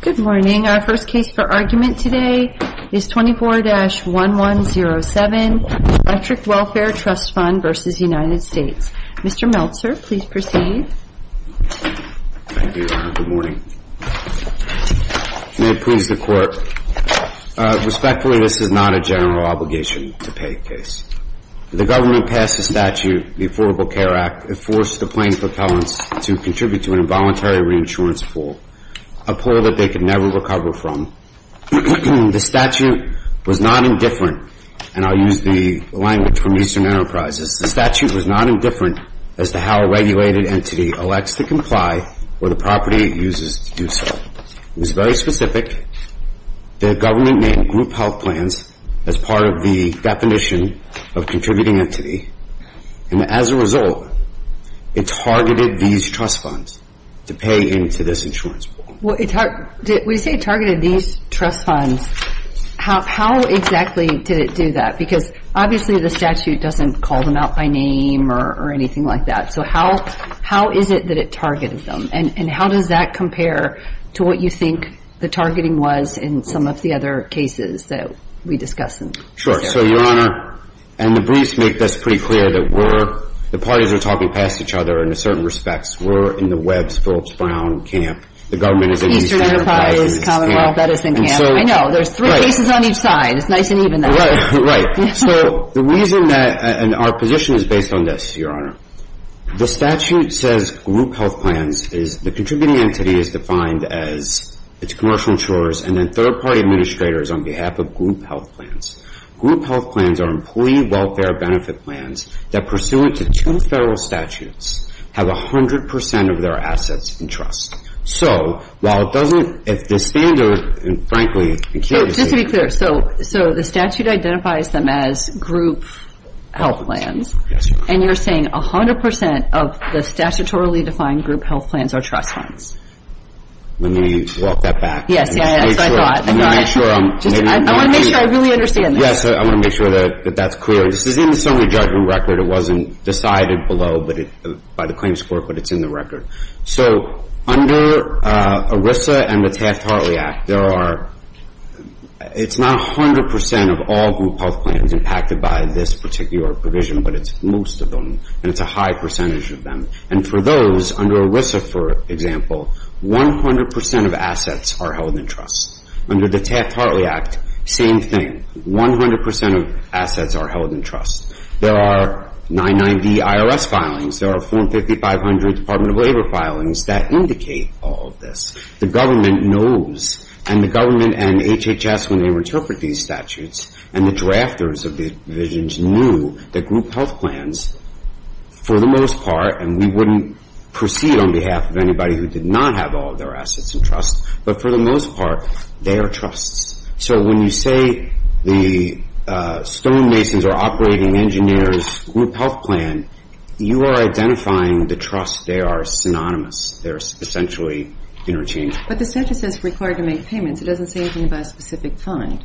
Respectfully, this is not a general obligation to pay a case. The government passed a statute, the Affordable Care Act, that forced the plaintiff appellants to contribute to an involuntary reinsurance pool, a pool that they could never recover from. The statute was not indifferent, and I'll use the language from Eastern Enterprises, the statute was not indifferent as to how a regulated entity elects to comply or the property it uses to do so. It was very specific. The government made group health plans as part of the definition of contributing entity, and as a result, it targeted these trust funds to pay into this insurance pool. When you say it targeted these trust funds, how exactly did it do that? Because obviously the statute doesn't call them out by name or anything like that, so how is it that it targeted them? And how does that compare to what you think the targeting was in some of the other cases that we discussed? Sure. So, Your Honor, and the briefs make this pretty clear that we're, the parties are talking past each other in certain respects. We're in the Webbs-Phillips-Brown camp. The government is in Eastern Enterprises. Eastern Enterprises, Commonwealth Medicine Camp. I know. There's three cases on each side. It's nice and even now. Right. So the reason that, and our position is based on this, Your Honor. The statute says group health plans is, the contributing entity is defined as its commercial insurers and then third party administrators on behalf of group health plans. Group health plans are employee welfare benefit plans that pursuant to two federal statutes have 100% of their assets in trust. So, while it doesn't, if the standard, and frankly, I'm curious. Just to be clear, so the statute identifies them as group health plans, and you're saying 100% of the statutorily defined group health plans are trust funds? Let me walk that back. Yes, that's what I thought. I want to make sure I really understand this. Yes, I want to make sure that that's clear. This is in the summary judgment record. It wasn't decided below by the claims court, but it's in the record. So, under ERISA and the Taft-Hartley Act, there are, it's not 100% of all group health plans impacted by this particular provision, but it's most of them, and it's a high percentage of them. For those, under ERISA, for example, 100% of assets are held in trust. Under the Taft-Hartley Act, same thing. 100% of assets are held in trust. There are 990 IRS filings. There are 450, 500 Department of Labor filings that indicate all of this. The government knows, and the government and HHS, when they interpret these statutes, and the drafters of these provisions, knew that group health plans, for the most part, and we wouldn't proceed on behalf of anybody who did not have all of their assets in trust, but for the most part, they are trusts. So, when you say the Stonemasons or Operating Engineers group health plan, you are identifying the trust. They are synonymous. They're essentially interchangeable. But the statute says required to make payments. It doesn't say anything about a specific kind.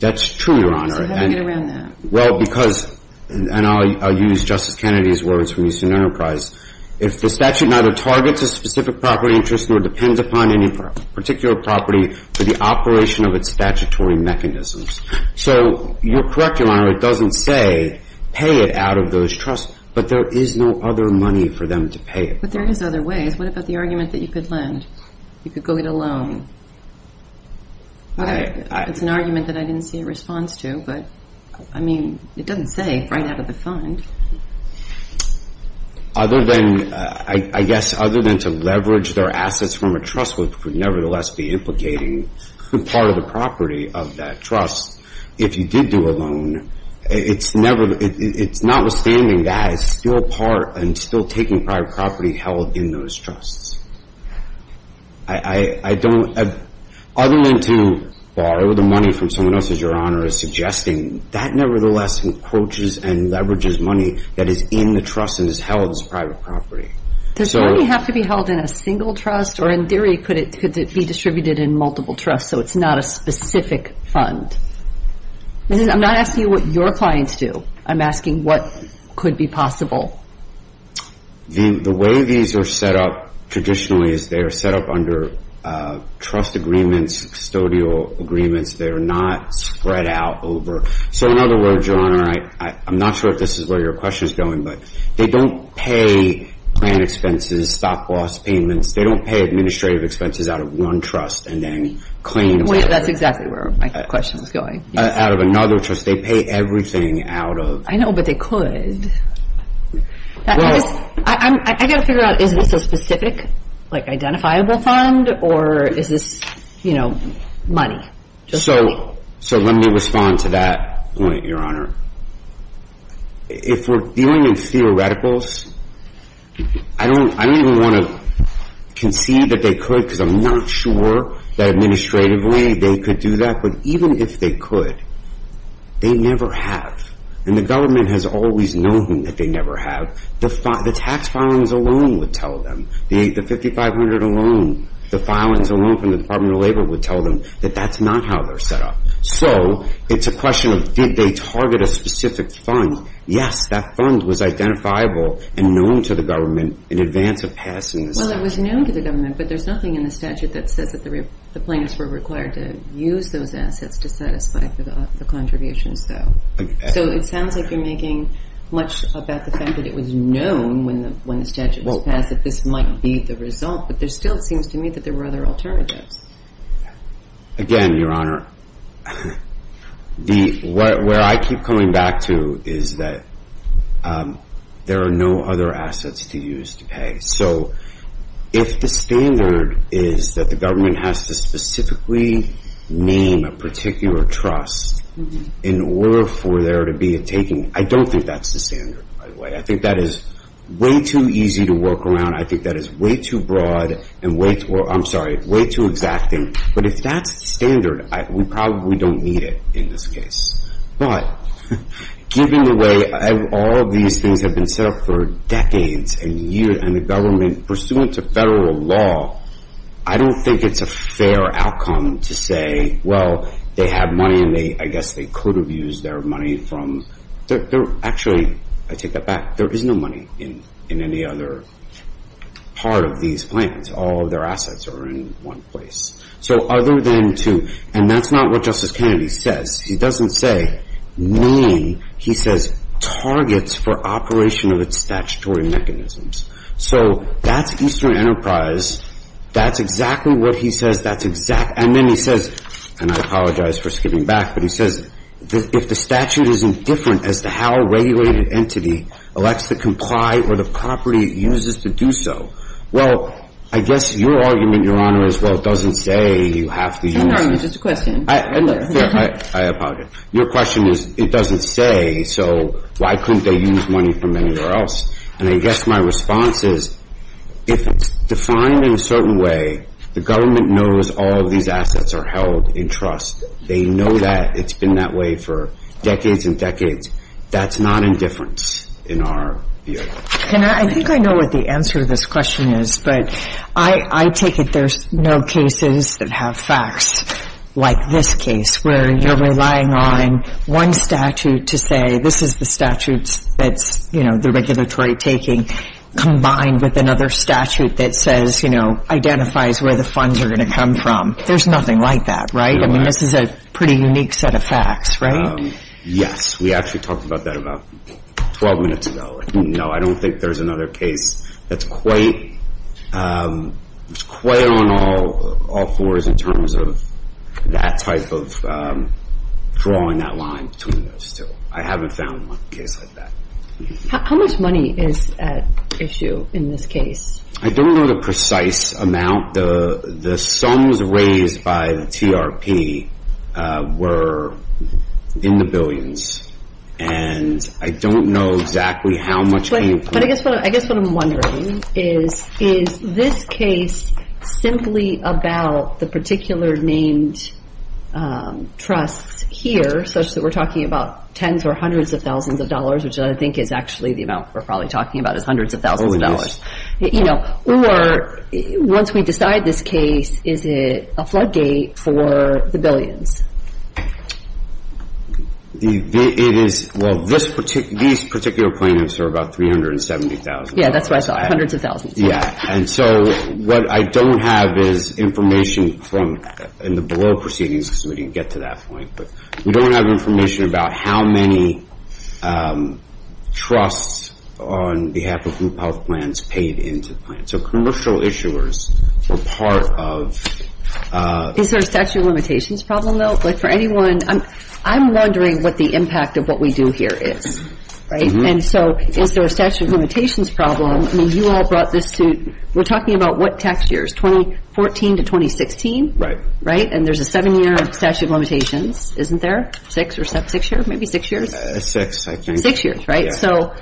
That's true, Your Honor. So how do we get around that? Well, because, and I'll use Justice Kennedy's words from Eastern Enterprise, if the statute neither targets a specific property interest nor depends upon any particular property for the operation of its statutory mechanisms. So, you're correct, Your Honor, it doesn't say pay it out of those trusts, but there is no other money for them to pay it. But there is other ways. What about the argument that you could lend? You could go get a loan? It's an argument that I didn't see a response to, but, I mean, it doesn't say right out of the fund. Other than, I guess, other than to leverage their assets from a trust would nevertheless be implicating part of the property of that trust. If you did do a loan, it's notwithstanding that it's still part and still taking private property held in those trusts. I don't, other than to borrow the money from someone else, as Your Honor is suggesting, that nevertheless encroaches and leverages money that is in the trust and is held as private property. Does money have to be held in a single trust? Or, in theory, could it be distributed in multiple trusts so it's not a specific fund? I'm not asking you what your clients do. I'm asking, would it be possible? The way these are set up traditionally is they are set up under trust agreements, custodial agreements. They're not spread out over. So, in other words, Your Honor, I'm not sure if this is where your question is going, but they don't pay plan expenses, stock loss payments. They don't pay administrative expenses out of one trust and then claims out of another. That's exactly where my question was going. Out of another trust. They pay everything out of... I know, but they could. I got to figure out, is this a specific, like, identifiable fund? Or is this, you know, money? So let me respond to that point, Your Honor. If we're dealing in theoreticals, I don't even want to concede that they could because I'm not sure that administratively they could do that, but even if they could, they never have. And the government has always known that they never have. The tax filings alone would tell them. The 5500 alone, the filings alone from the Department of Labor would tell them that that's not how they're set up. So it's a question of, did they target a specific fund? Yes, that fund was identifiable and known to the government in advance of passing the statute. Well, it was known to the government, but there's nothing in the statute that says that the plaintiffs were required to use those assets to satisfy the contributions, though. So it sounds like you're making much about the fact that it was known when the statute was passed that this might be the result, but there still seems to me that there were other alternatives. Again, Your Honor, where I keep coming back to is that there are no other assets to use to pay. So if the standard is that the government has to specifically name a particular trust in order for there to be a taking, I don't think that's the standard, by the way. I think that is way too easy to work around. I think that is way too broad and way too, I'm sorry, way too exacting. But if that's the standard, we probably don't need it in this case. But given the way all of these things have been set up for decades and years, and the government pursuant to federal law, I don't think it's a fair outcome to say, well, they have money and I guess they could have used their money from, actually, I take that back, there is no money in any other part of these plans. All of their assets are in one place. So other than to, and that's not what Justice Kennedy says. He doesn't say name. He says targets for operation of its statutory mechanisms. So that's Eastern Enterprise. That's exactly what he says. That's exact. And then he says, and I apologize for skipping back, but he says, if the statute isn't different as to how a regulated entity elects to comply or the property it uses to do so, well, I guess your argument, Your Honor, as well, doesn't say you have to use. No, no, just a question. I apologize. Your question is, it doesn't say, so why couldn't they use money from anywhere else? And I guess my response is, if it's defined in a certain way, the government knows all of these assets are held in trust. They know that it's been that way for decades and decades. That's not indifference in our view. And I think I know what the answer to this question is, but I take it there's no cases that have facts like this case, where you're relying on one statute to say, this is the statutes that's, you know, the regulatory taking, combined with another statute that says, you know, identifies where the funds are going to come from. There's nothing like that, right? I mean, this is a pretty unique set of facts, right? Yes, we actually talked about that about 12 minutes ago. You know, I don't think there's another case that's quite on all fours in terms of that type of drawing that line between those two. I haven't found one case like that. How much money is at issue in this case? I don't know the precise amount. The sums raised by the TRP were in the billions. And I don't know exactly how much came from... But I guess what I'm wondering is, is this case simply about the particular named trusts here, such that we're talking about tens or hundreds of thousands of dollars, which I think is actually the amount we're probably talking about is hundreds of thousands of dollars. You know, or once we decide this case, is it a floodgate for the billions? It is, well, these particular plaintiffs are about $370,000. Yeah, that's what I thought, hundreds of thousands. Yeah, and so what I don't have is information from, in the below proceedings, because we didn't get to that point, but we don't have information about how many trusts on behalf of group health plans paid into the plan. So commercial issuers were part of... Is there a statute of limitations problem, though? Like for anyone, I'm wondering what the impact of what we do here is, right? And so is there a statute of limitations problem? I mean, you all brought this to, we're talking about what tax years? 2014 to 2016? Right. Right, and there's a seven-year statute of limitations, isn't there? Six or seven, six years, maybe six years? Six, I think. Six years, right? So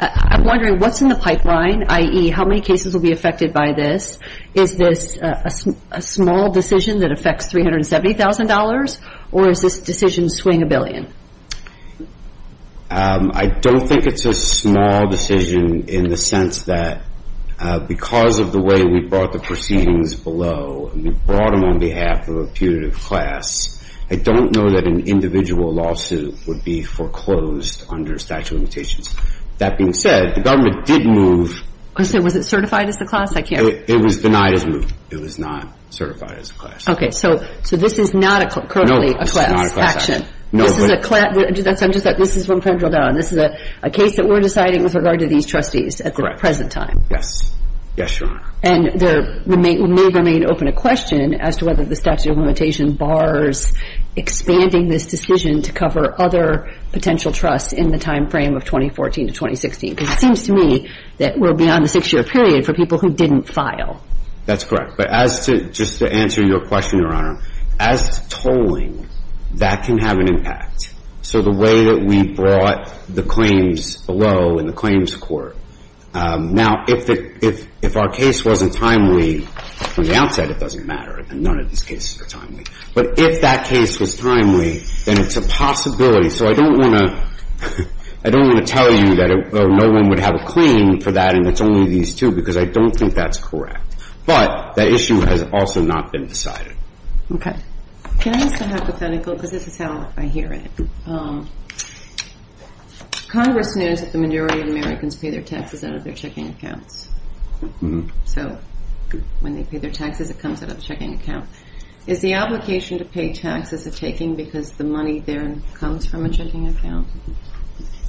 I'm wondering what's in the pipeline, i.e., how many cases will be affected by this? Is this a small decision that affects $370,000, or is this decision swing a billion? I don't think it's a small decision in the sense that because of the way we brought the proceedings below, and we brought them on behalf of a putative class, I don't know that an individual lawsuit would be foreclosed under statute of limitations. That being said, the government did move... I'm sorry, was it certified as the class? I can't... It was denied as moved. It was not certified as a class. Okay, so this is not currently a class action. This is a class... I'm just like, this is from Kendal Down. This is a case that we're deciding with regard to these trustees at the present time. Correct. Yes. Yes, Your Honor. And there may remain open a question as to whether the statute of limitation bars expanding this decision to cover other potential trusts in the time frame of 2014 to 2016, because it seems to me that we're beyond the six-year period for people who didn't file. That's correct. But as to, just to answer your question, Your Honor, as tolling, that can have an impact. So the way that we brought the claims below in the claims court, now if our case wasn't timely from the outset, it doesn't matter. None of these cases are timely. But if that case was timely, then it's a possibility. So I don't want to tell you that no one would have a claim for that and it's only these two, because I don't think that's correct. But that issue has also not been decided. Okay. Can I ask a hypothetical? Because this is how I hear it. Congress knows that the majority of Americans pay their taxes out of their checking accounts. So when they pay their taxes, it comes out of the checking account. Is the obligation to pay taxes a taking because the money there comes from a checking account?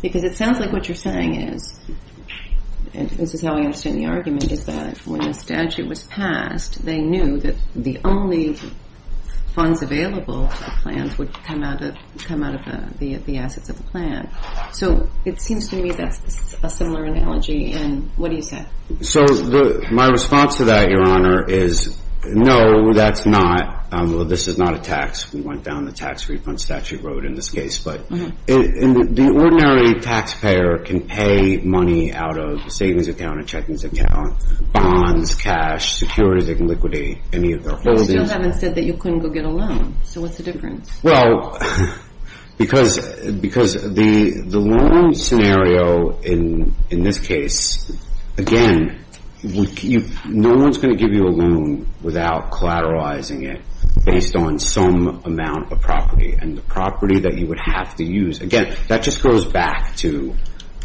Because it sounds like what you're saying is, and this is how I understand the argument, is that when the statute was passed, they knew that the only funds available to the plans would come out of the assets of the plan. So it seems to me that's a similar analogy. And what do you say? So my response to that, Your Honor, is no, that's not. Well, this is not a tax. We went down the tax refund statute road in this case. But the ordinary taxpayer can pay money out of a savings account, a checkings account, bonds, cash, securities and liquidity, any of their holdings. But you still haven't said that you couldn't go get a loan. So what's the difference? Well, because the loan scenario in this case, again, no one's going to give you a loan without collateralizing it based on some amount of property. And the property that you would have to use, again, that just goes back to,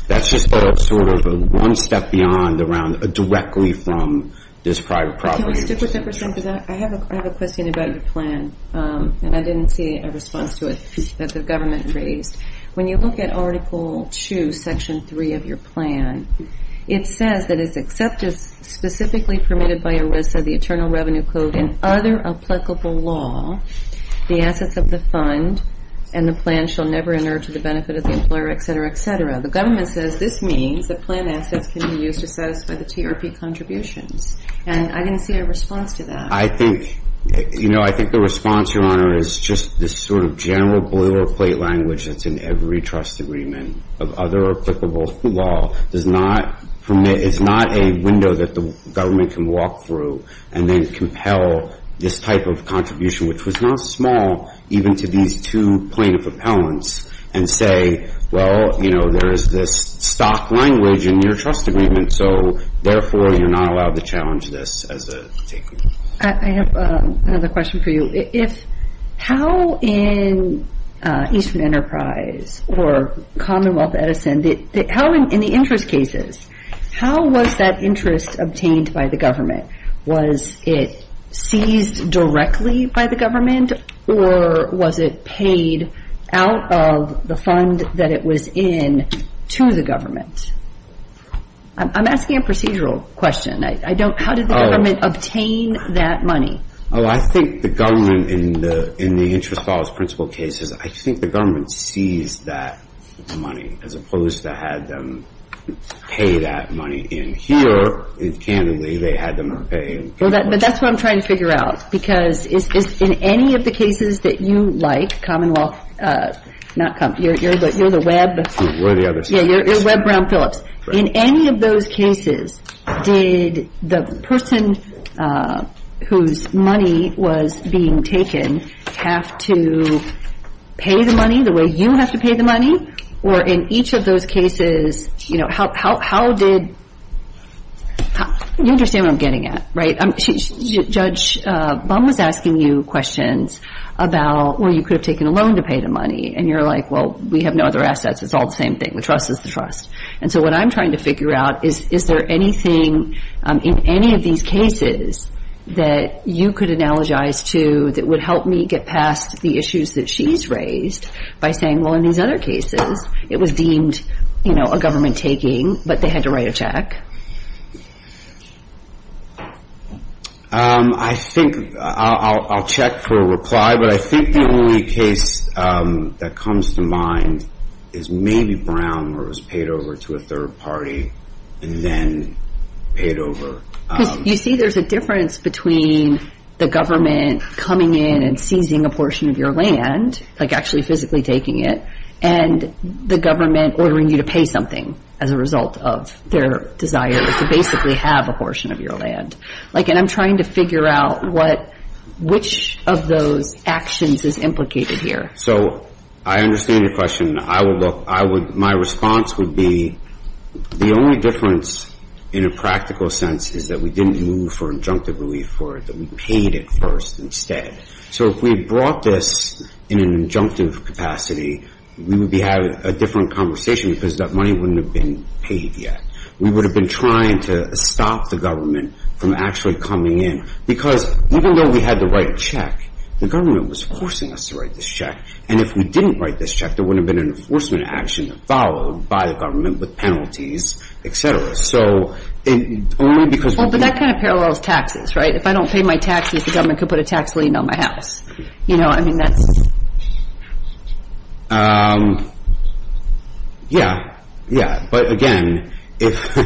that's just sort of one step beyond around directly from this private property agency. Can we stick with that for a second? Because I have a question about your plan. And I didn't see a response to it that the government raised. When you look at Article 2, Section 3 of your plan, it says that it's accepted, specifically permitted by ERISA, the Internal Revenue Code and other applicable law, the assets of the fund and the plan shall never inert to the benefit of the employer, et cetera, et cetera. The government says this means the plan assets can be used to satisfy the TRP contributions. And I didn't see a response to that. I think, you know, I think the response, Your Honor, is just this sort of general boilerplate language that's in every trust agreement of other applicable law does not permit, is not a window that the government can walk through and then compel this type of contribution, which was not small, even to these two plaintiff appellants, and say, well, you know, there is this stock language in your trust agreement. So therefore, you're not allowed to challenge this as a taker. I have another question for you. How in Eastern Enterprise or Commonwealth Edison, how in the interest cases, how was that interest obtained by the government? Was it seized directly by the government, or was it paid out of the fund that it was in to the government? I'm asking a procedural question. I don't, how did the government obtain that money? Oh, I think the government in the interest law's principal cases, I think the government seized that money as opposed to had them pay that money in here. And candidly, they had them pay. But that's what I'm trying to figure out. Because in any of the cases that you like, Commonwealth, not Commonwealth, you're the web, you're Webb Brown Phillips. In any of those cases, did the person whose money was being taken have to pay the money the way you have to pay the money? Or in each of those cases, you know, how did, you understand what I'm getting at, right? Judge Bum was asking you questions about where you could have taken a loan to pay the money. And you're like, well, we have no other assets. It's all the same thing. The trust is the trust. And so what I'm trying to figure out is, is there anything in any of these cases that you could analogize to that would help me get past the issues that she's raised by saying, well, in these other cases, it was deemed, you know, a government taking, but they had to write a check. I think I'll check for a reply. But I think the only case that comes to mind is maybe Brown where it was paid over to a third party and then paid over. You see, there's a difference between the government coming in and seizing a portion of your land, like actually physically taking it, and the government ordering you to pay something as a result of their desire to basically have a portion of your land. And I'm trying to figure out which of those actions is implicated here. So I understand your question. My response would be the only difference in a practical sense is that we didn't move for injunctive relief for it, that we paid it first instead. So if we had brought this in an injunctive capacity, we would be having a different conversation because that money wouldn't have been paid yet. We would have been trying to stop the government from actually coming in. Because even though we had the right check, the government was forcing us to write this check. And if we didn't write this check, there wouldn't have been an enforcement action followed by the government with penalties, et cetera. So only because we didn't... Well, but that kind of parallels taxes, right? If I don't pay my taxes, the government could have put a tax lien on my house. I mean, that's... Yeah, yeah. But again, if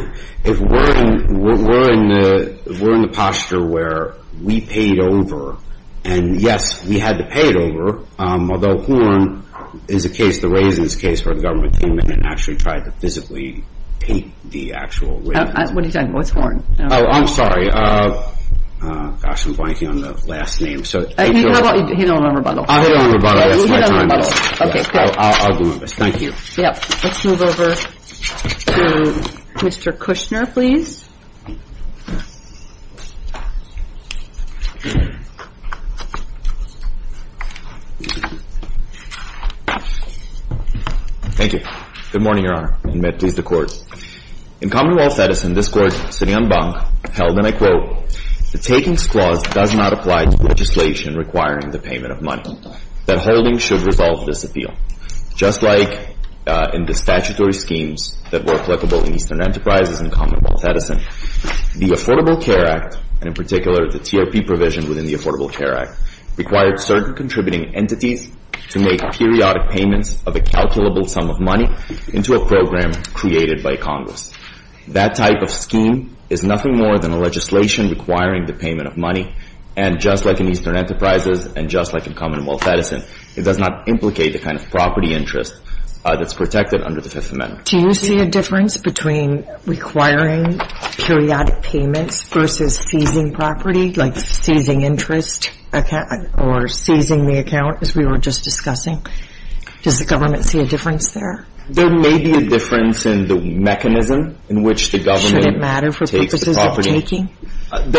we're in the posture where we paid over, and yes, we had to pay it over, although Horn is a case, the Raisins case, where the government came in and actually tried to physically paint the actual Raisins. What are you talking about? What's Horn? Oh, I'm sorry. Gosh, I'm blanking on the last name. Hit him on rebuttal. I'll hit him on rebuttal. That's my time. Okay, great. I'll do my best. Thank you. Yep. Let's move over to Mr. Kushner, please. Thank you. Good morning, Your Honor. And may it please the Court. In Commonwealth Edison, this Court, sitting on bunk, held, and I quote, the takings clause does not apply to legislation requiring the payment of money. That holding should resolve this appeal. Just like in the statutory schemes that were applicable in Eastern Enterprises in Commonwealth Edison, the Affordable Care Act, and in particular, the TRP provision within the Affordable Care Act, required certain contributing entities to make periodic payments of a calculable sum of money into a program created by Congress. That type of scheme is nothing more than a legislation requiring the payment of money. And just like in Eastern Enterprises and just like in Commonwealth Edison, it does not implicate the kind of property interest that's protected under the Fifth Amendment. Do you see a difference between requiring periodic payments versus seizing property, like seizing interest or seizing the account, as we were just discussing? Does the government see a difference there? There may be a difference in the mechanism in which the government takes the property. Should it matter for purposes of taking?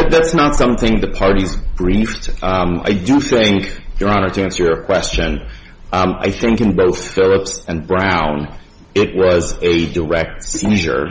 That's not something the parties briefed. I do think, Your Honor, to answer your question, I think in both Phillips and Brown, it was a direct seizure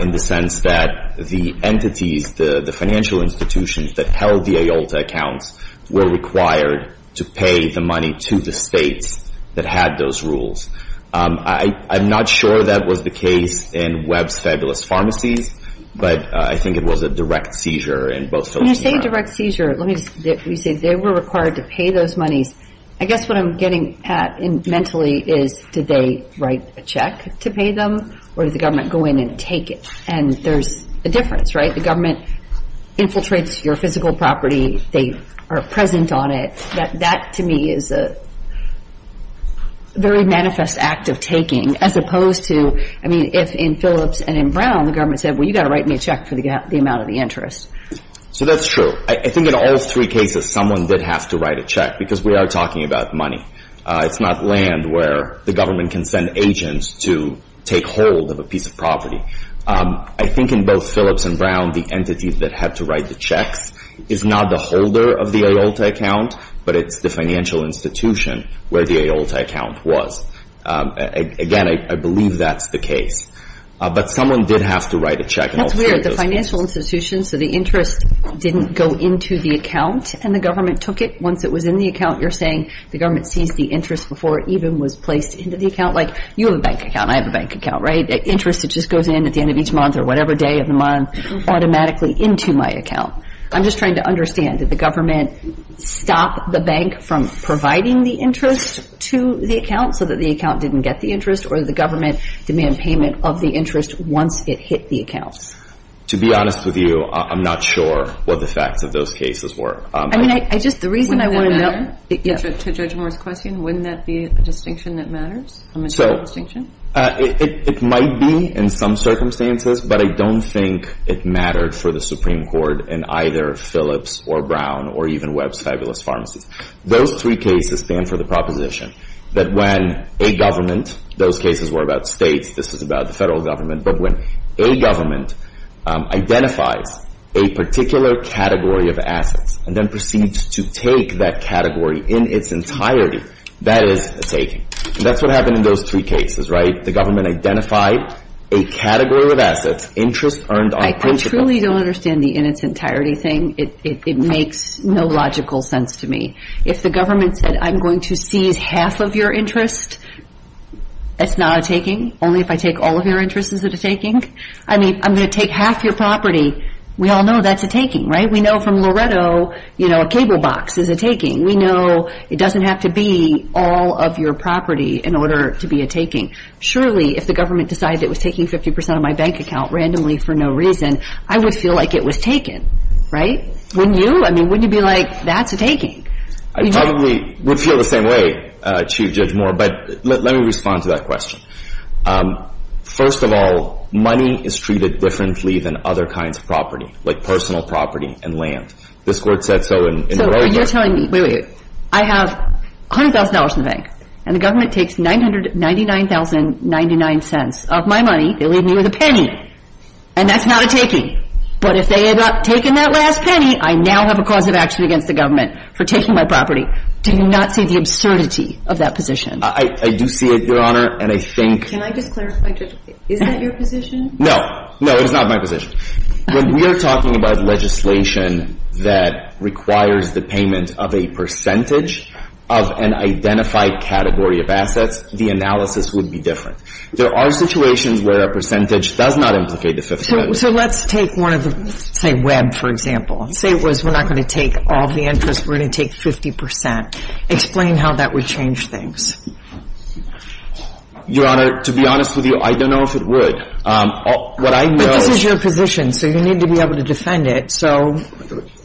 in the sense that the entities, the financial institutions, that held the AYLTA accounts were required to pay the money to the states that had those rules. I'm not sure that was the case in Webb's Fabulous Pharmacies, but I think it was a direct seizure in both Phillips and Brown. When you say direct seizure, let me just say they were required to pay those monies. I guess what I'm getting at mentally is did they write a check to pay them or did the government go in and take it? And there's a difference, right? The government infiltrates your physical property. They are present on it. That, to me, is a very manifest act of taking as opposed to, I mean, if in Phillips and in Brown, the government said, well, you've got to write me a check for the amount of the interest. So that's true. I think in all three cases someone did have to write a check because we are talking about money. It's not land where the government can send agents to take hold of a piece of property. I think in both Phillips and Brown, the entity that had to write the checks is not the holder of the AOLTA account, but it's the financial institution where the AOLTA account was. Again, I believe that's the case. But someone did have to write a check in all three of those cases. That's weird. The financial institution, so the interest didn't go into the account and the government took it. Once it was in the account, you're saying the government seized the interest before it even was placed into the account. Like you have a bank account. I have a bank account, right? The interest just goes in at the end of each month or whatever day of the month automatically into my account. I'm just trying to understand. Did the government stop the bank from providing the interest to the account so that the account didn't get the interest, or did the government demand payment of the interest once it hit the account? To be honest with you, I'm not sure what the facts of those cases were. I mean, I just, the reason I want to know. To Judge Moore's question, wouldn't that be a distinction that matters, a material distinction? It might be in some circumstances, but I don't think it mattered for the Supreme Court in either Phillips or Brown or even Webb's fabulous pharmacies. Those three cases stand for the proposition that when a government, those cases were about states, this is about the federal government, but when a government identifies a particular category of assets and then proceeds to take that category in its entirety, that is a taking. That's what happened in those three cases, right? The government identified a category of assets, interest earned on principle. I truly don't understand the in its entirety thing. It makes no logical sense to me. If the government said, I'm going to seize half of your interest, that's not a taking. Only if I take all of your interest is it a taking? I mean, I'm going to take half your property. We all know that's a taking, right? We know from Loretto, you know, a cable box is a taking. We know it doesn't have to be all of your property in order to be a taking. Surely, if the government decided it was taking 50% of my bank account randomly for no reason, I would feel like it was taken, right? Wouldn't you? I mean, wouldn't you be like, that's a taking? I probably would feel the same way, Chief Judge Moore, but let me respond to that question. First of all, money is treated differently than other kinds of property, like personal property and land. This court said so in Loretto. So you're telling me, wait, wait, wait, I have $100,000 in the bank, and the government takes $999.99 of my money. They leave me with a penny, and that's not a taking. But if they end up taking that last penny, I now have a cause of action against the government for taking my property. Do you not see the absurdity of that position? I do see it, Your Honor, and I think— Can I just clarify, is that your position? No, no, it is not my position. When we are talking about legislation that requires the payment of a percentage of an identified category of assets, the analysis would be different. There are situations where a percentage does not implicate the fifth amendment. So let's take one of the, say, Webb, for example. Say it was, we're not going to take all the interest, we're going to take 50 percent. Explain how that would change things. Your Honor, to be honest with you, I don't know if it would. But this is your position, so you need to be able to defend it. So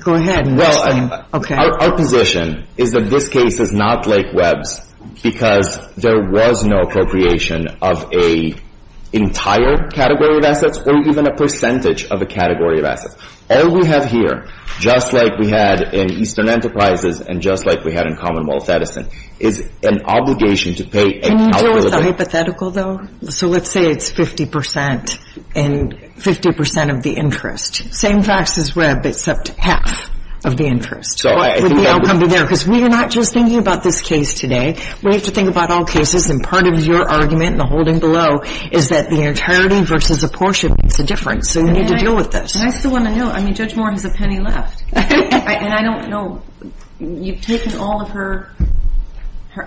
go ahead and explain. Our position is that this case is not like Webb's because there was no appropriation of an entire category of assets or even a percentage of a category of assets. All we have here, just like we had in Eastern Enterprises and just like we had in Commonwealth Edison, is an obligation to pay— So let's say it's 50 percent and 50 percent of the interest. Same facts as Webb except half of the interest. Because we are not just thinking about this case today. We have to think about all cases. And part of your argument in the holding below is that the entirety versus a portion makes a difference. So you need to deal with this. And I still want to know. I mean, Judge Moore has a penny left. And I don't know—you've taken all of her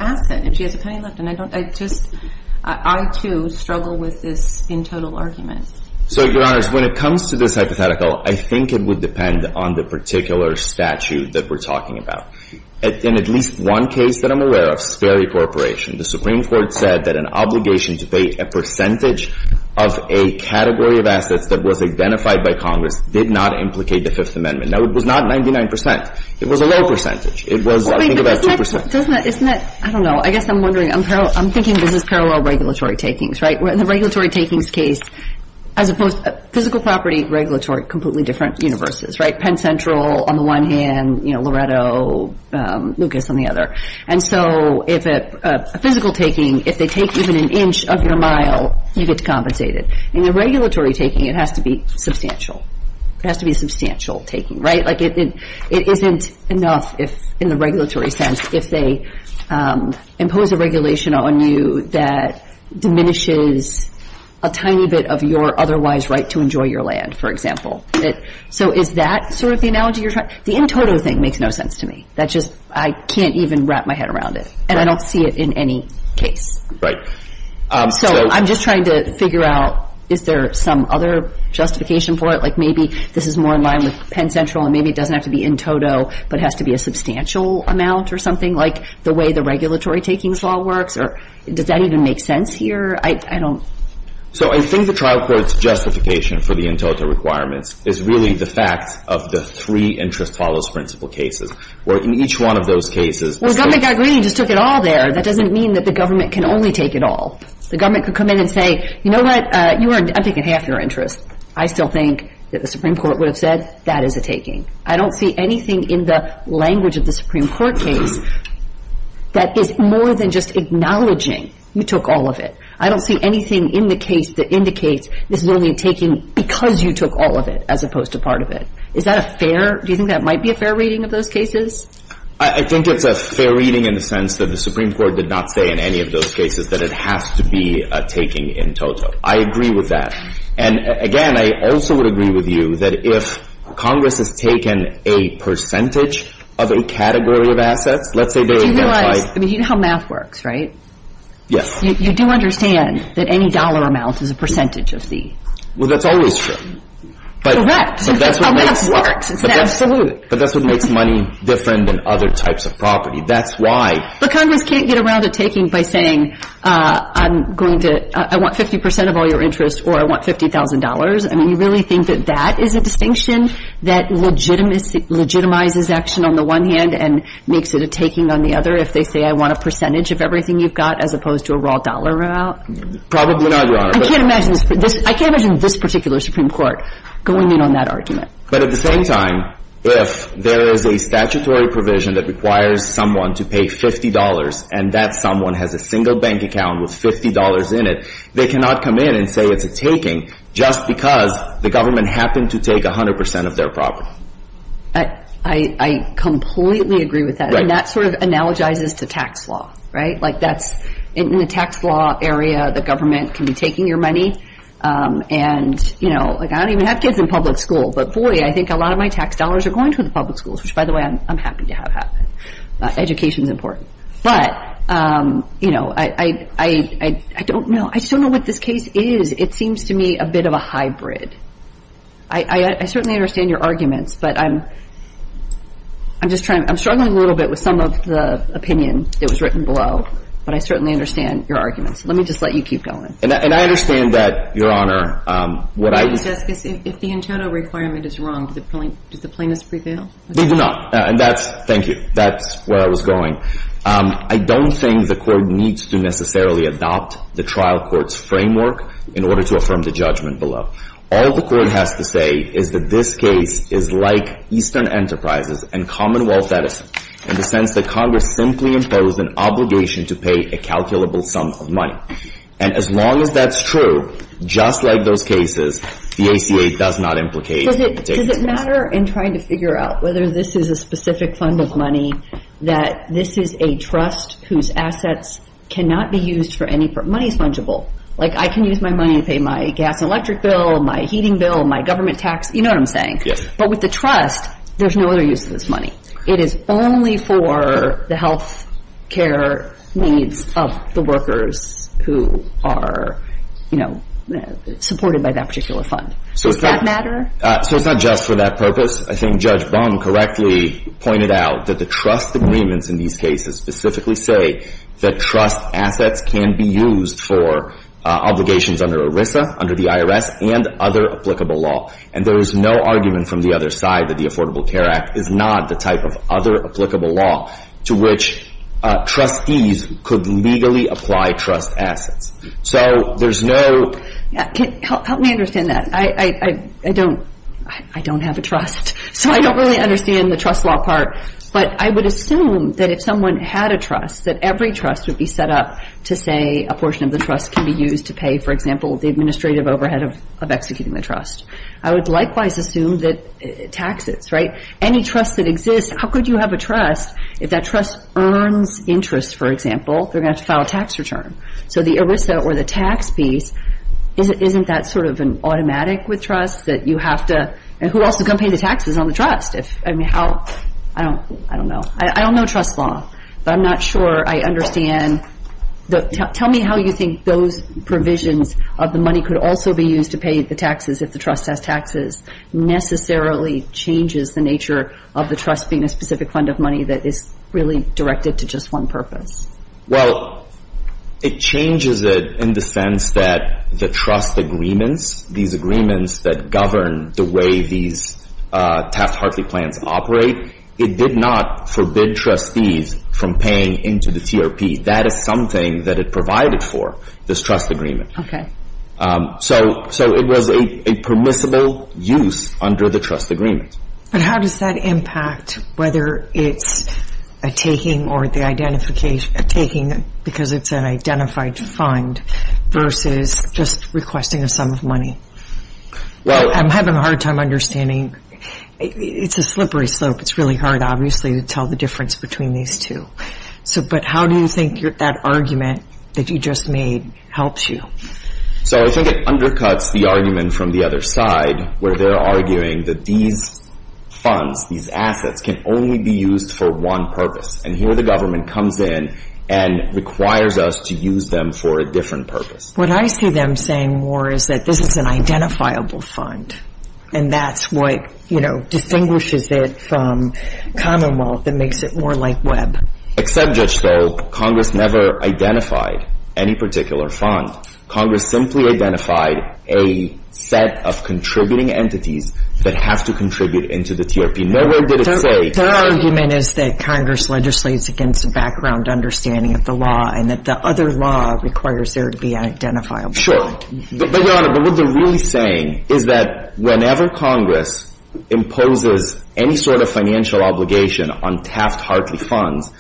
assets and she has a penny left. And I don't—I just—I, too, struggle with this in total argument. So, Your Honor, when it comes to this hypothetical, I think it would depend on the particular statute that we're talking about. In at least one case that I'm aware of, Sperry Corporation, the Supreme Court said that an obligation to pay a percentage of a category of assets that was identified by Congress did not implicate the Fifth Amendment. Now, it was not 99 percent. It was a low percentage. It was, I think, about 2 percent. Doesn't that—isn't that—I don't know. I guess I'm wondering—I'm thinking this is parallel regulatory takings, right? In the regulatory takings case, as opposed—physical property, regulatory, completely different universes, right? Penn Central on the one hand, you know, Loretto, Lucas on the other. And so if a physical taking—if they take even an inch of your mile, you get compensated. In the regulatory taking, it has to be substantial. It has to be a substantial taking, right? Like it isn't enough in the regulatory sense if they impose a regulation on you that diminishes a tiny bit of your otherwise right to enjoy your land, for example. So is that sort of the analogy you're trying—the in-toto thing makes no sense to me. That just—I can't even wrap my head around it. And I don't see it in any case. Right. So I'm just trying to figure out, is there some other justification for it? Like maybe this is more in line with Penn Central, and maybe it doesn't have to be in-toto, but has to be a substantial amount or something? Like the way the regulatory takings law works? Or does that even make sense here? I don't— So I think the trial court's justification for the in-toto requirements is really the fact of the three interest follows principle cases. Where in each one of those cases— Well, government got greedy and just took it all there. That doesn't mean that the government can only take it all. The government could come in and say, you know what, I'm taking half your interest. I still think that the Supreme Court would have said, that is a taking. I don't see anything in the language of the Supreme Court case that is more than just acknowledging you took all of it. I don't see anything in the case that indicates this is only a taking because you took all of it as opposed to part of it. Is that a fair—do you think that might be a fair reading of those cases? I think it's a fair reading in the sense that the Supreme Court did not say in any of those cases that it has to be a taking in-toto. I agree with that. And, again, I also would agree with you that if Congress has taken a percentage of a category of assets, let's say they identify— But you realize—I mean, you know how math works, right? Yes. You do understand that any dollar amount is a percentage of the— Well, that's always true. Correct. But that's what makes— That's how math works. Absolutely. But that's what makes money different than other types of property. That's why— But Congress can't get around a taking by saying, I'm going to—I want 50 percent of all your interest or I want $50,000. I mean, you really think that that is a distinction that legitimizes action on the one hand and makes it a taking on the other if they say, I want a percentage of everything you've got as opposed to a raw dollar amount? Probably not, Your Honor. I can't imagine this particular Supreme Court going in on that argument. But at the same time, if there is a statutory provision that requires someone to pay $50 and that someone has a single bank account with $50 in it, they cannot come in and say it's a taking just because the government happened to take 100 percent of their property. I completely agree with that. Right. And that sort of analogizes to tax law, right? Like that's—in the tax law area, the government can be taking your money and, you know, like I don't even have kids in public school, but boy, I think a lot of my tax dollars are going to the public schools, which, by the way, I'm happy to have happen. Education is important. But, you know, I don't know. I just don't know what this case is. It seems to me a bit of a hybrid. I certainly understand your arguments, but I'm just trying—I'm struggling a little bit with some of the opinion that was written below. But I certainly understand your arguments. Let me just let you keep going. And I understand that, Your Honor, what I— If the internal requirement is wrong, does the plaintiff prevail? They do not. And that's—thank you. That's where I was going. I don't think the court needs to necessarily adopt the trial court's framework in order to affirm the judgment below. All the court has to say is that this case is like Eastern Enterprises and Commonwealth Edison in the sense that Congress simply imposed an obligation to pay a calculable sum of money. And as long as that's true, just like those cases, the ACA does not implicate— Does it matter in trying to figure out whether this is a specific fund of money that this is a trust whose assets cannot be used for any— money is fungible. Like, I can use my money to pay my gas and electric bill, my heating bill, my government tax. You know what I'm saying. Yes. But with the trust, there's no other use of this money. It is only for the health care needs of the workers who are, you know, supported by that particular fund. Does that matter? So it's not just for that purpose. I think Judge Baum correctly pointed out that the trust agreements in these cases specifically say that trust assets can be used for obligations under ERISA, under the IRS, and other applicable law. And there is no argument from the other side that the Affordable Care Act is not the type of other applicable law to which trustees could legally apply trust assets. So there's no— Help me understand that. I don't have a trust, so I don't really understand the trust law part. But I would assume that if someone had a trust, that every trust would be set up to say a portion of the trust can be used to pay, for example, the administrative overhead of executing the trust. I would likewise assume that taxes, right? Any trust that exists, how could you have a trust if that trust earns interest, for example? They're going to have to file a tax return. So the ERISA or the tax piece, isn't that sort of automatic with trusts that you have to— and who else is going to pay the taxes on the trust? I mean, how—I don't know. I don't know trust law, but I'm not sure I understand. Tell me how you think those provisions of the money could also be used to pay the taxes if the trust has taxes necessarily changes the nature of the trust being a specific fund of money that is really directed to just one purpose. Well, it changes it in the sense that the trust agreements, these agreements that govern the way these Taft-Hartley plans operate, it did not forbid trustees from paying into the TRP. That is something that it provided for, this trust agreement. Okay. So it was a permissible use under the trust agreement. But how does that impact whether it's a taking or the identification—a taking because it's an identified fund versus just requesting a sum of money? Well— I'm having a hard time understanding. It's a slippery slope. It's really hard, obviously, to tell the difference between these two. But how do you think that argument that you just made helps you? So I think it undercuts the argument from the other side where they're arguing that these funds, these assets, can only be used for one purpose. And here the government comes in and requires us to use them for a different purpose. What I see them saying more is that this is an identifiable fund, and that's what, you know, distinguishes it from Commonwealth and makes it more like Webb. Except, Judge Stolz, Congress never identified any particular fund. Congress simply identified a set of contributing entities that have to contribute into the TRP. Nowhere did it say— Their argument is that Congress legislates against a background understanding of the law and that the other law requires there to be an identifiable fund. Sure. But, Your Honor, but what they're really saying is that whenever Congress imposes any sort of financial obligation on Taft-Hartley funds,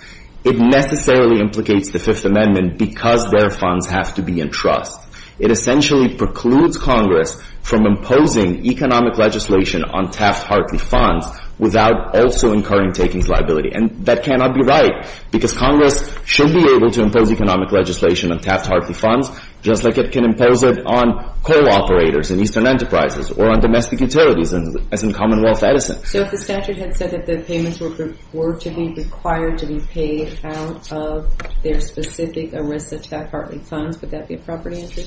it necessarily implicates the Fifth Amendment because their funds have to be in trust. It essentially precludes Congress from imposing economic legislation on Taft-Hartley funds without also incurring takings liability. And that cannot be right because Congress should be able to impose economic legislation on Taft-Hartley funds just like it can impose it on coal operators and Eastern Enterprises or on domestic utilities as in Commonwealth Edison. So if the statute had said that the payments were to be required to be paid out of their specific ERISA Taft-Hartley funds, would that be a proper answer?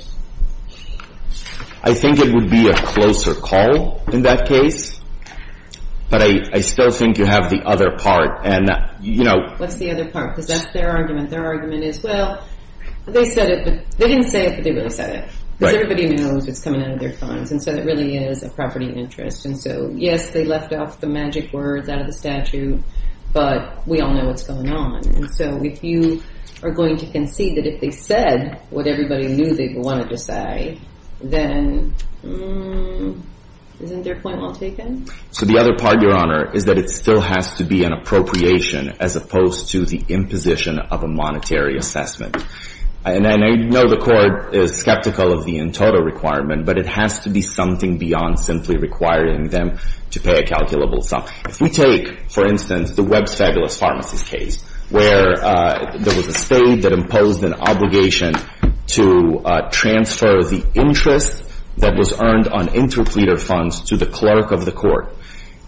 I think it would be a closer call in that case, but I still think you have the other part, and, you know— What's the other part? Because that's their argument. Their argument is, well, they said it, but they didn't say it, but they really said it. Because everybody knows what's coming out of their funds, and so that really is a property of interest. And so, yes, they left off the magic words out of the statute, but we all know what's going on. And so if you are going to concede that if they said what everybody knew they would want to decide, then isn't their point well taken? So the other part, Your Honor, is that it still has to be an appropriation as opposed to the imposition of a monetary assessment. And I know the Court is skeptical of the in-total requirement, but it has to be something beyond simply requiring them to pay a calculable sum. If we take, for instance, the Webb's Fabulous Pharmacist case, where there was a state that imposed an obligation to transfer the interest that was earned on interpleader funds to the clerk of the court,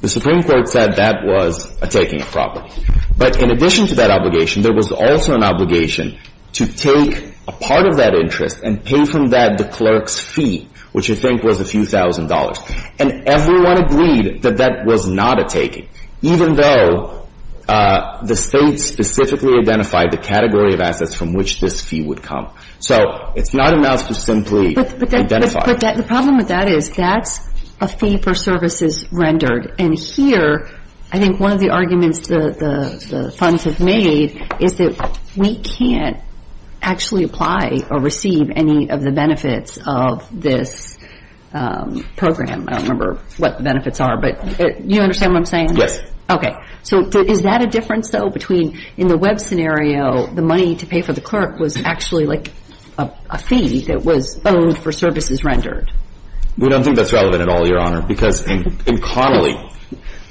the Supreme Court said that was a taking of property. But in addition to that obligation, there was also an obligation to take a part of that interest and pay from that the clerk's fee, which I think was a few thousand dollars. And everyone agreed that that was not a taking, even though the State specifically identified the category of assets from which this fee would come. So it's not enough to simply identify it. The problem with that is that's a fee for services rendered. And here, I think one of the arguments the funds have made is that we can't actually apply or receive any of the benefits of this program. I don't remember what the benefits are, but you understand what I'm saying? Yes. Okay. So is that a difference, though, between in the Webb scenario, the money to pay for the clerk was actually like a fee that was owed for services rendered? We don't think that's relevant at all, Your Honor, because in Connolly,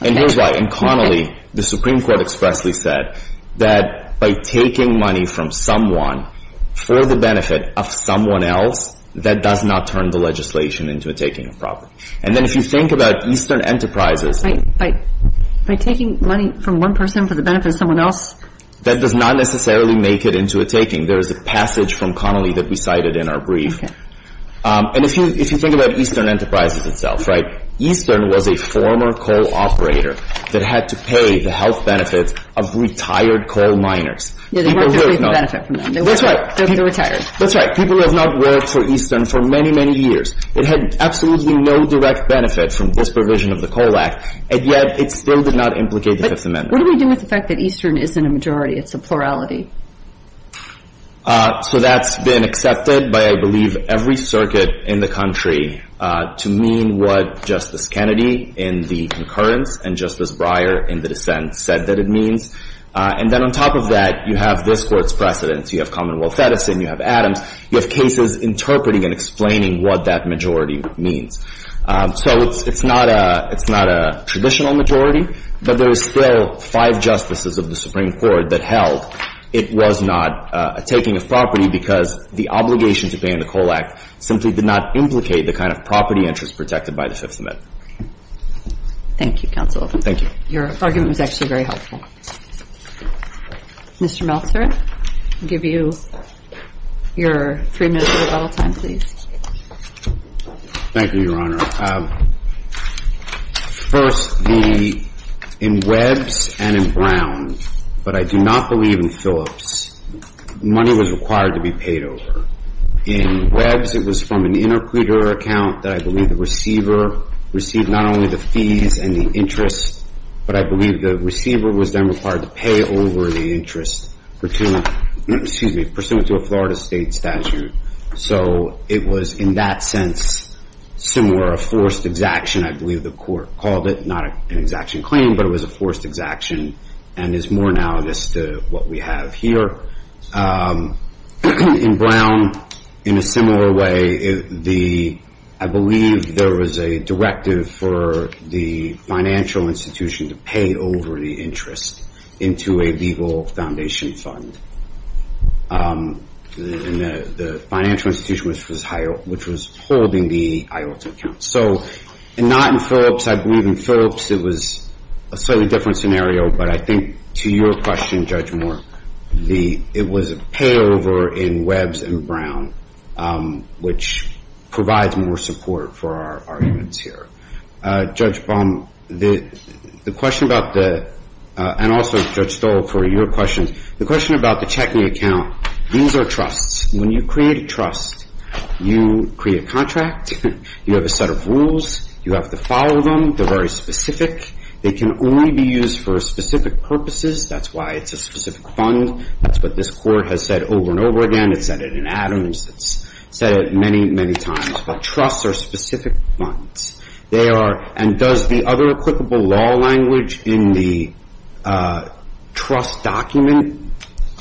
and here's why. In Connolly, the Supreme Court expressly said that by taking money from someone for the benefit of someone else, that does not turn the legislation into a taking of property. And then if you think about Eastern Enterprises. By taking money from one person for the benefit of someone else? That does not necessarily make it into a taking. There is a passage from Connolly that we cited in our brief. And if you think about Eastern Enterprises itself, right, Eastern was a former coal operator that had to pay the health benefits of retired coal miners. Yeah, they weren't getting any benefit from them. That's right. They were retired. That's right. People who have not worked for Eastern for many, many years. It had absolutely no direct benefit from this provision of the Coal Act, and yet it still did not implicate the Fifth Amendment. What do we do with the fact that Eastern isn't a majority? It's a plurality. So that's been accepted by, I believe, every circuit in the country to mean what Justice Kennedy in the concurrence and Justice Breyer in the dissent said that it means. And then on top of that, you have this Court's precedents. You have Commonwealth Edison. You have Adams. You have cases interpreting and explaining what that majority means. So it's not a traditional majority, but there are still five justices of the Supreme Court that held it was not a taking of property because the obligation to pay in the Coal Act simply did not implicate the kind of property interest protected by the Fifth Amendment. Thank you, Counsel. Thank you. Your argument was actually very helpful. Mr. Meltzer, I'll give you your three minutes of rebuttal time, please. Thank you, Your Honor. First, in Webbs and in Brown, but I do not believe in Phillips, money was required to be paid over. In Webbs, it was from an interpreter account that I believe the receiver received not only the fees and the interest, but I believe the receiver was then required to pay over the interest pursuant to a Florida state statute. So it was, in that sense, similar, a forced exaction, I believe the Court called it. Not an exaction claim, but it was a forced exaction and is more analogous to what we have here. In Brown, in a similar way, I believe there was a directive for the financial institution to pay over the interest into a legal foundation fund. The financial institution, which was holding the IOTA account. So, not in Phillips, I believe in Phillips, it was a slightly different scenario, but I think to your question, Judge Moore, it was a pay over in Webbs and Brown, which provides more support for our arguments here. Judge Baum, the question about the, and also Judge Stoll, for your question, the question about the checking account, these are trusts. When you create a trust, you create a contract, you have a set of rules, you have to follow them, they're very specific, they can only be used for specific purposes, that's why it's a specific fund, that's what this Court has said over and over again, it's said it in Adams, it's said it many, many times. But trusts are specific funds. They are, and does the other applicable law language in the trust document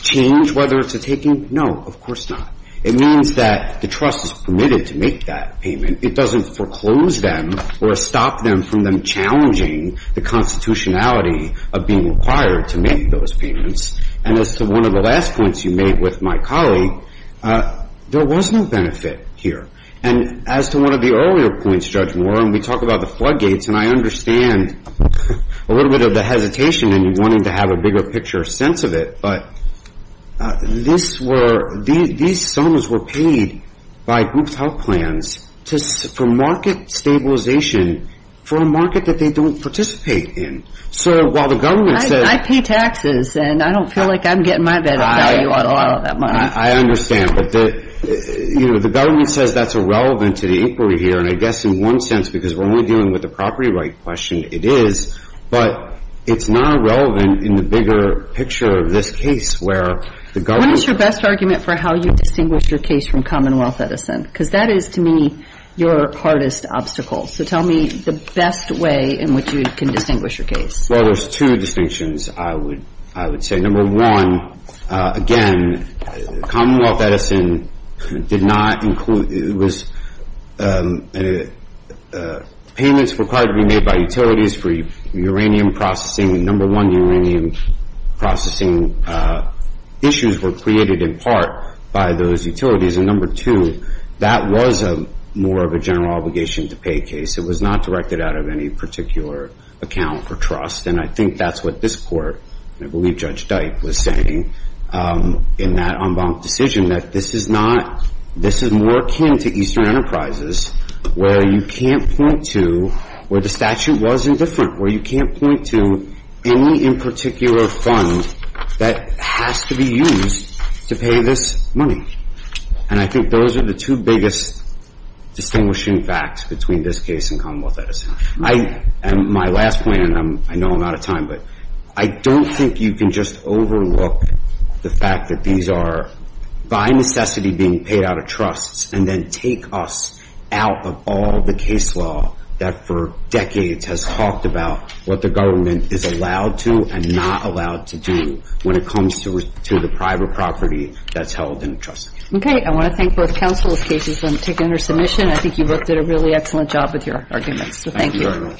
change, whether it's a taking? No, of course not. It means that the trust is permitted to make that payment, it doesn't foreclose them or stop them from them challenging the constitutionality of being required to make those payments. And as to one of the last points you made with my colleague, there was no benefit here. And as to one of the earlier points, Judge Moore, and we talk about the floodgates, and I understand a little bit of the hesitation in wanting to have a bigger picture sense of it, but this were, these sums were paid by group's health plans for market stabilization for a market that they don't participate in. So while the government says... I pay taxes, and I don't feel like I'm getting my benefit value out of all of that money. I understand, but the government says that's irrelevant to the inquiry here, and I guess in one sense, because we're only dealing with the property right question, it is, but it's not relevant in the bigger picture of this case where the government... What is your best argument for how you distinguish your case from Commonwealth Edison? Because that is, to me, your hardest obstacle. So tell me the best way in which you can distinguish your case. Well, there's two distinctions, I would say. Number one, again, Commonwealth Edison did not include... It was payments required to be made by utilities for uranium processing. Number one, the uranium processing issues were created in part by those utilities, and number two, that was more of a general obligation to pay case. It was not directed out of any particular account for trust, and I think that's what this court, and I believe Judge Dyke was saying in that en banc decision, that this is more akin to Eastern Enterprises where you can't point to where the statute was indifferent, where you can't point to any in particular fund that has to be used to pay this money. And I think those are the two biggest distinguishing facts between this case and Commonwealth Edison. My last point, and I know I'm out of time, but I don't think you can just overlook the fact that these are by necessity being paid out of trust and then take us out of all the case law that for decades has talked about what the government is allowed to and not allowed to do when it comes to the private property that's held in trust. Okay, I want to thank both counsels' cases for taking their submission. I think you both did a really excellent job with your arguments, so thank you. Thank you very much.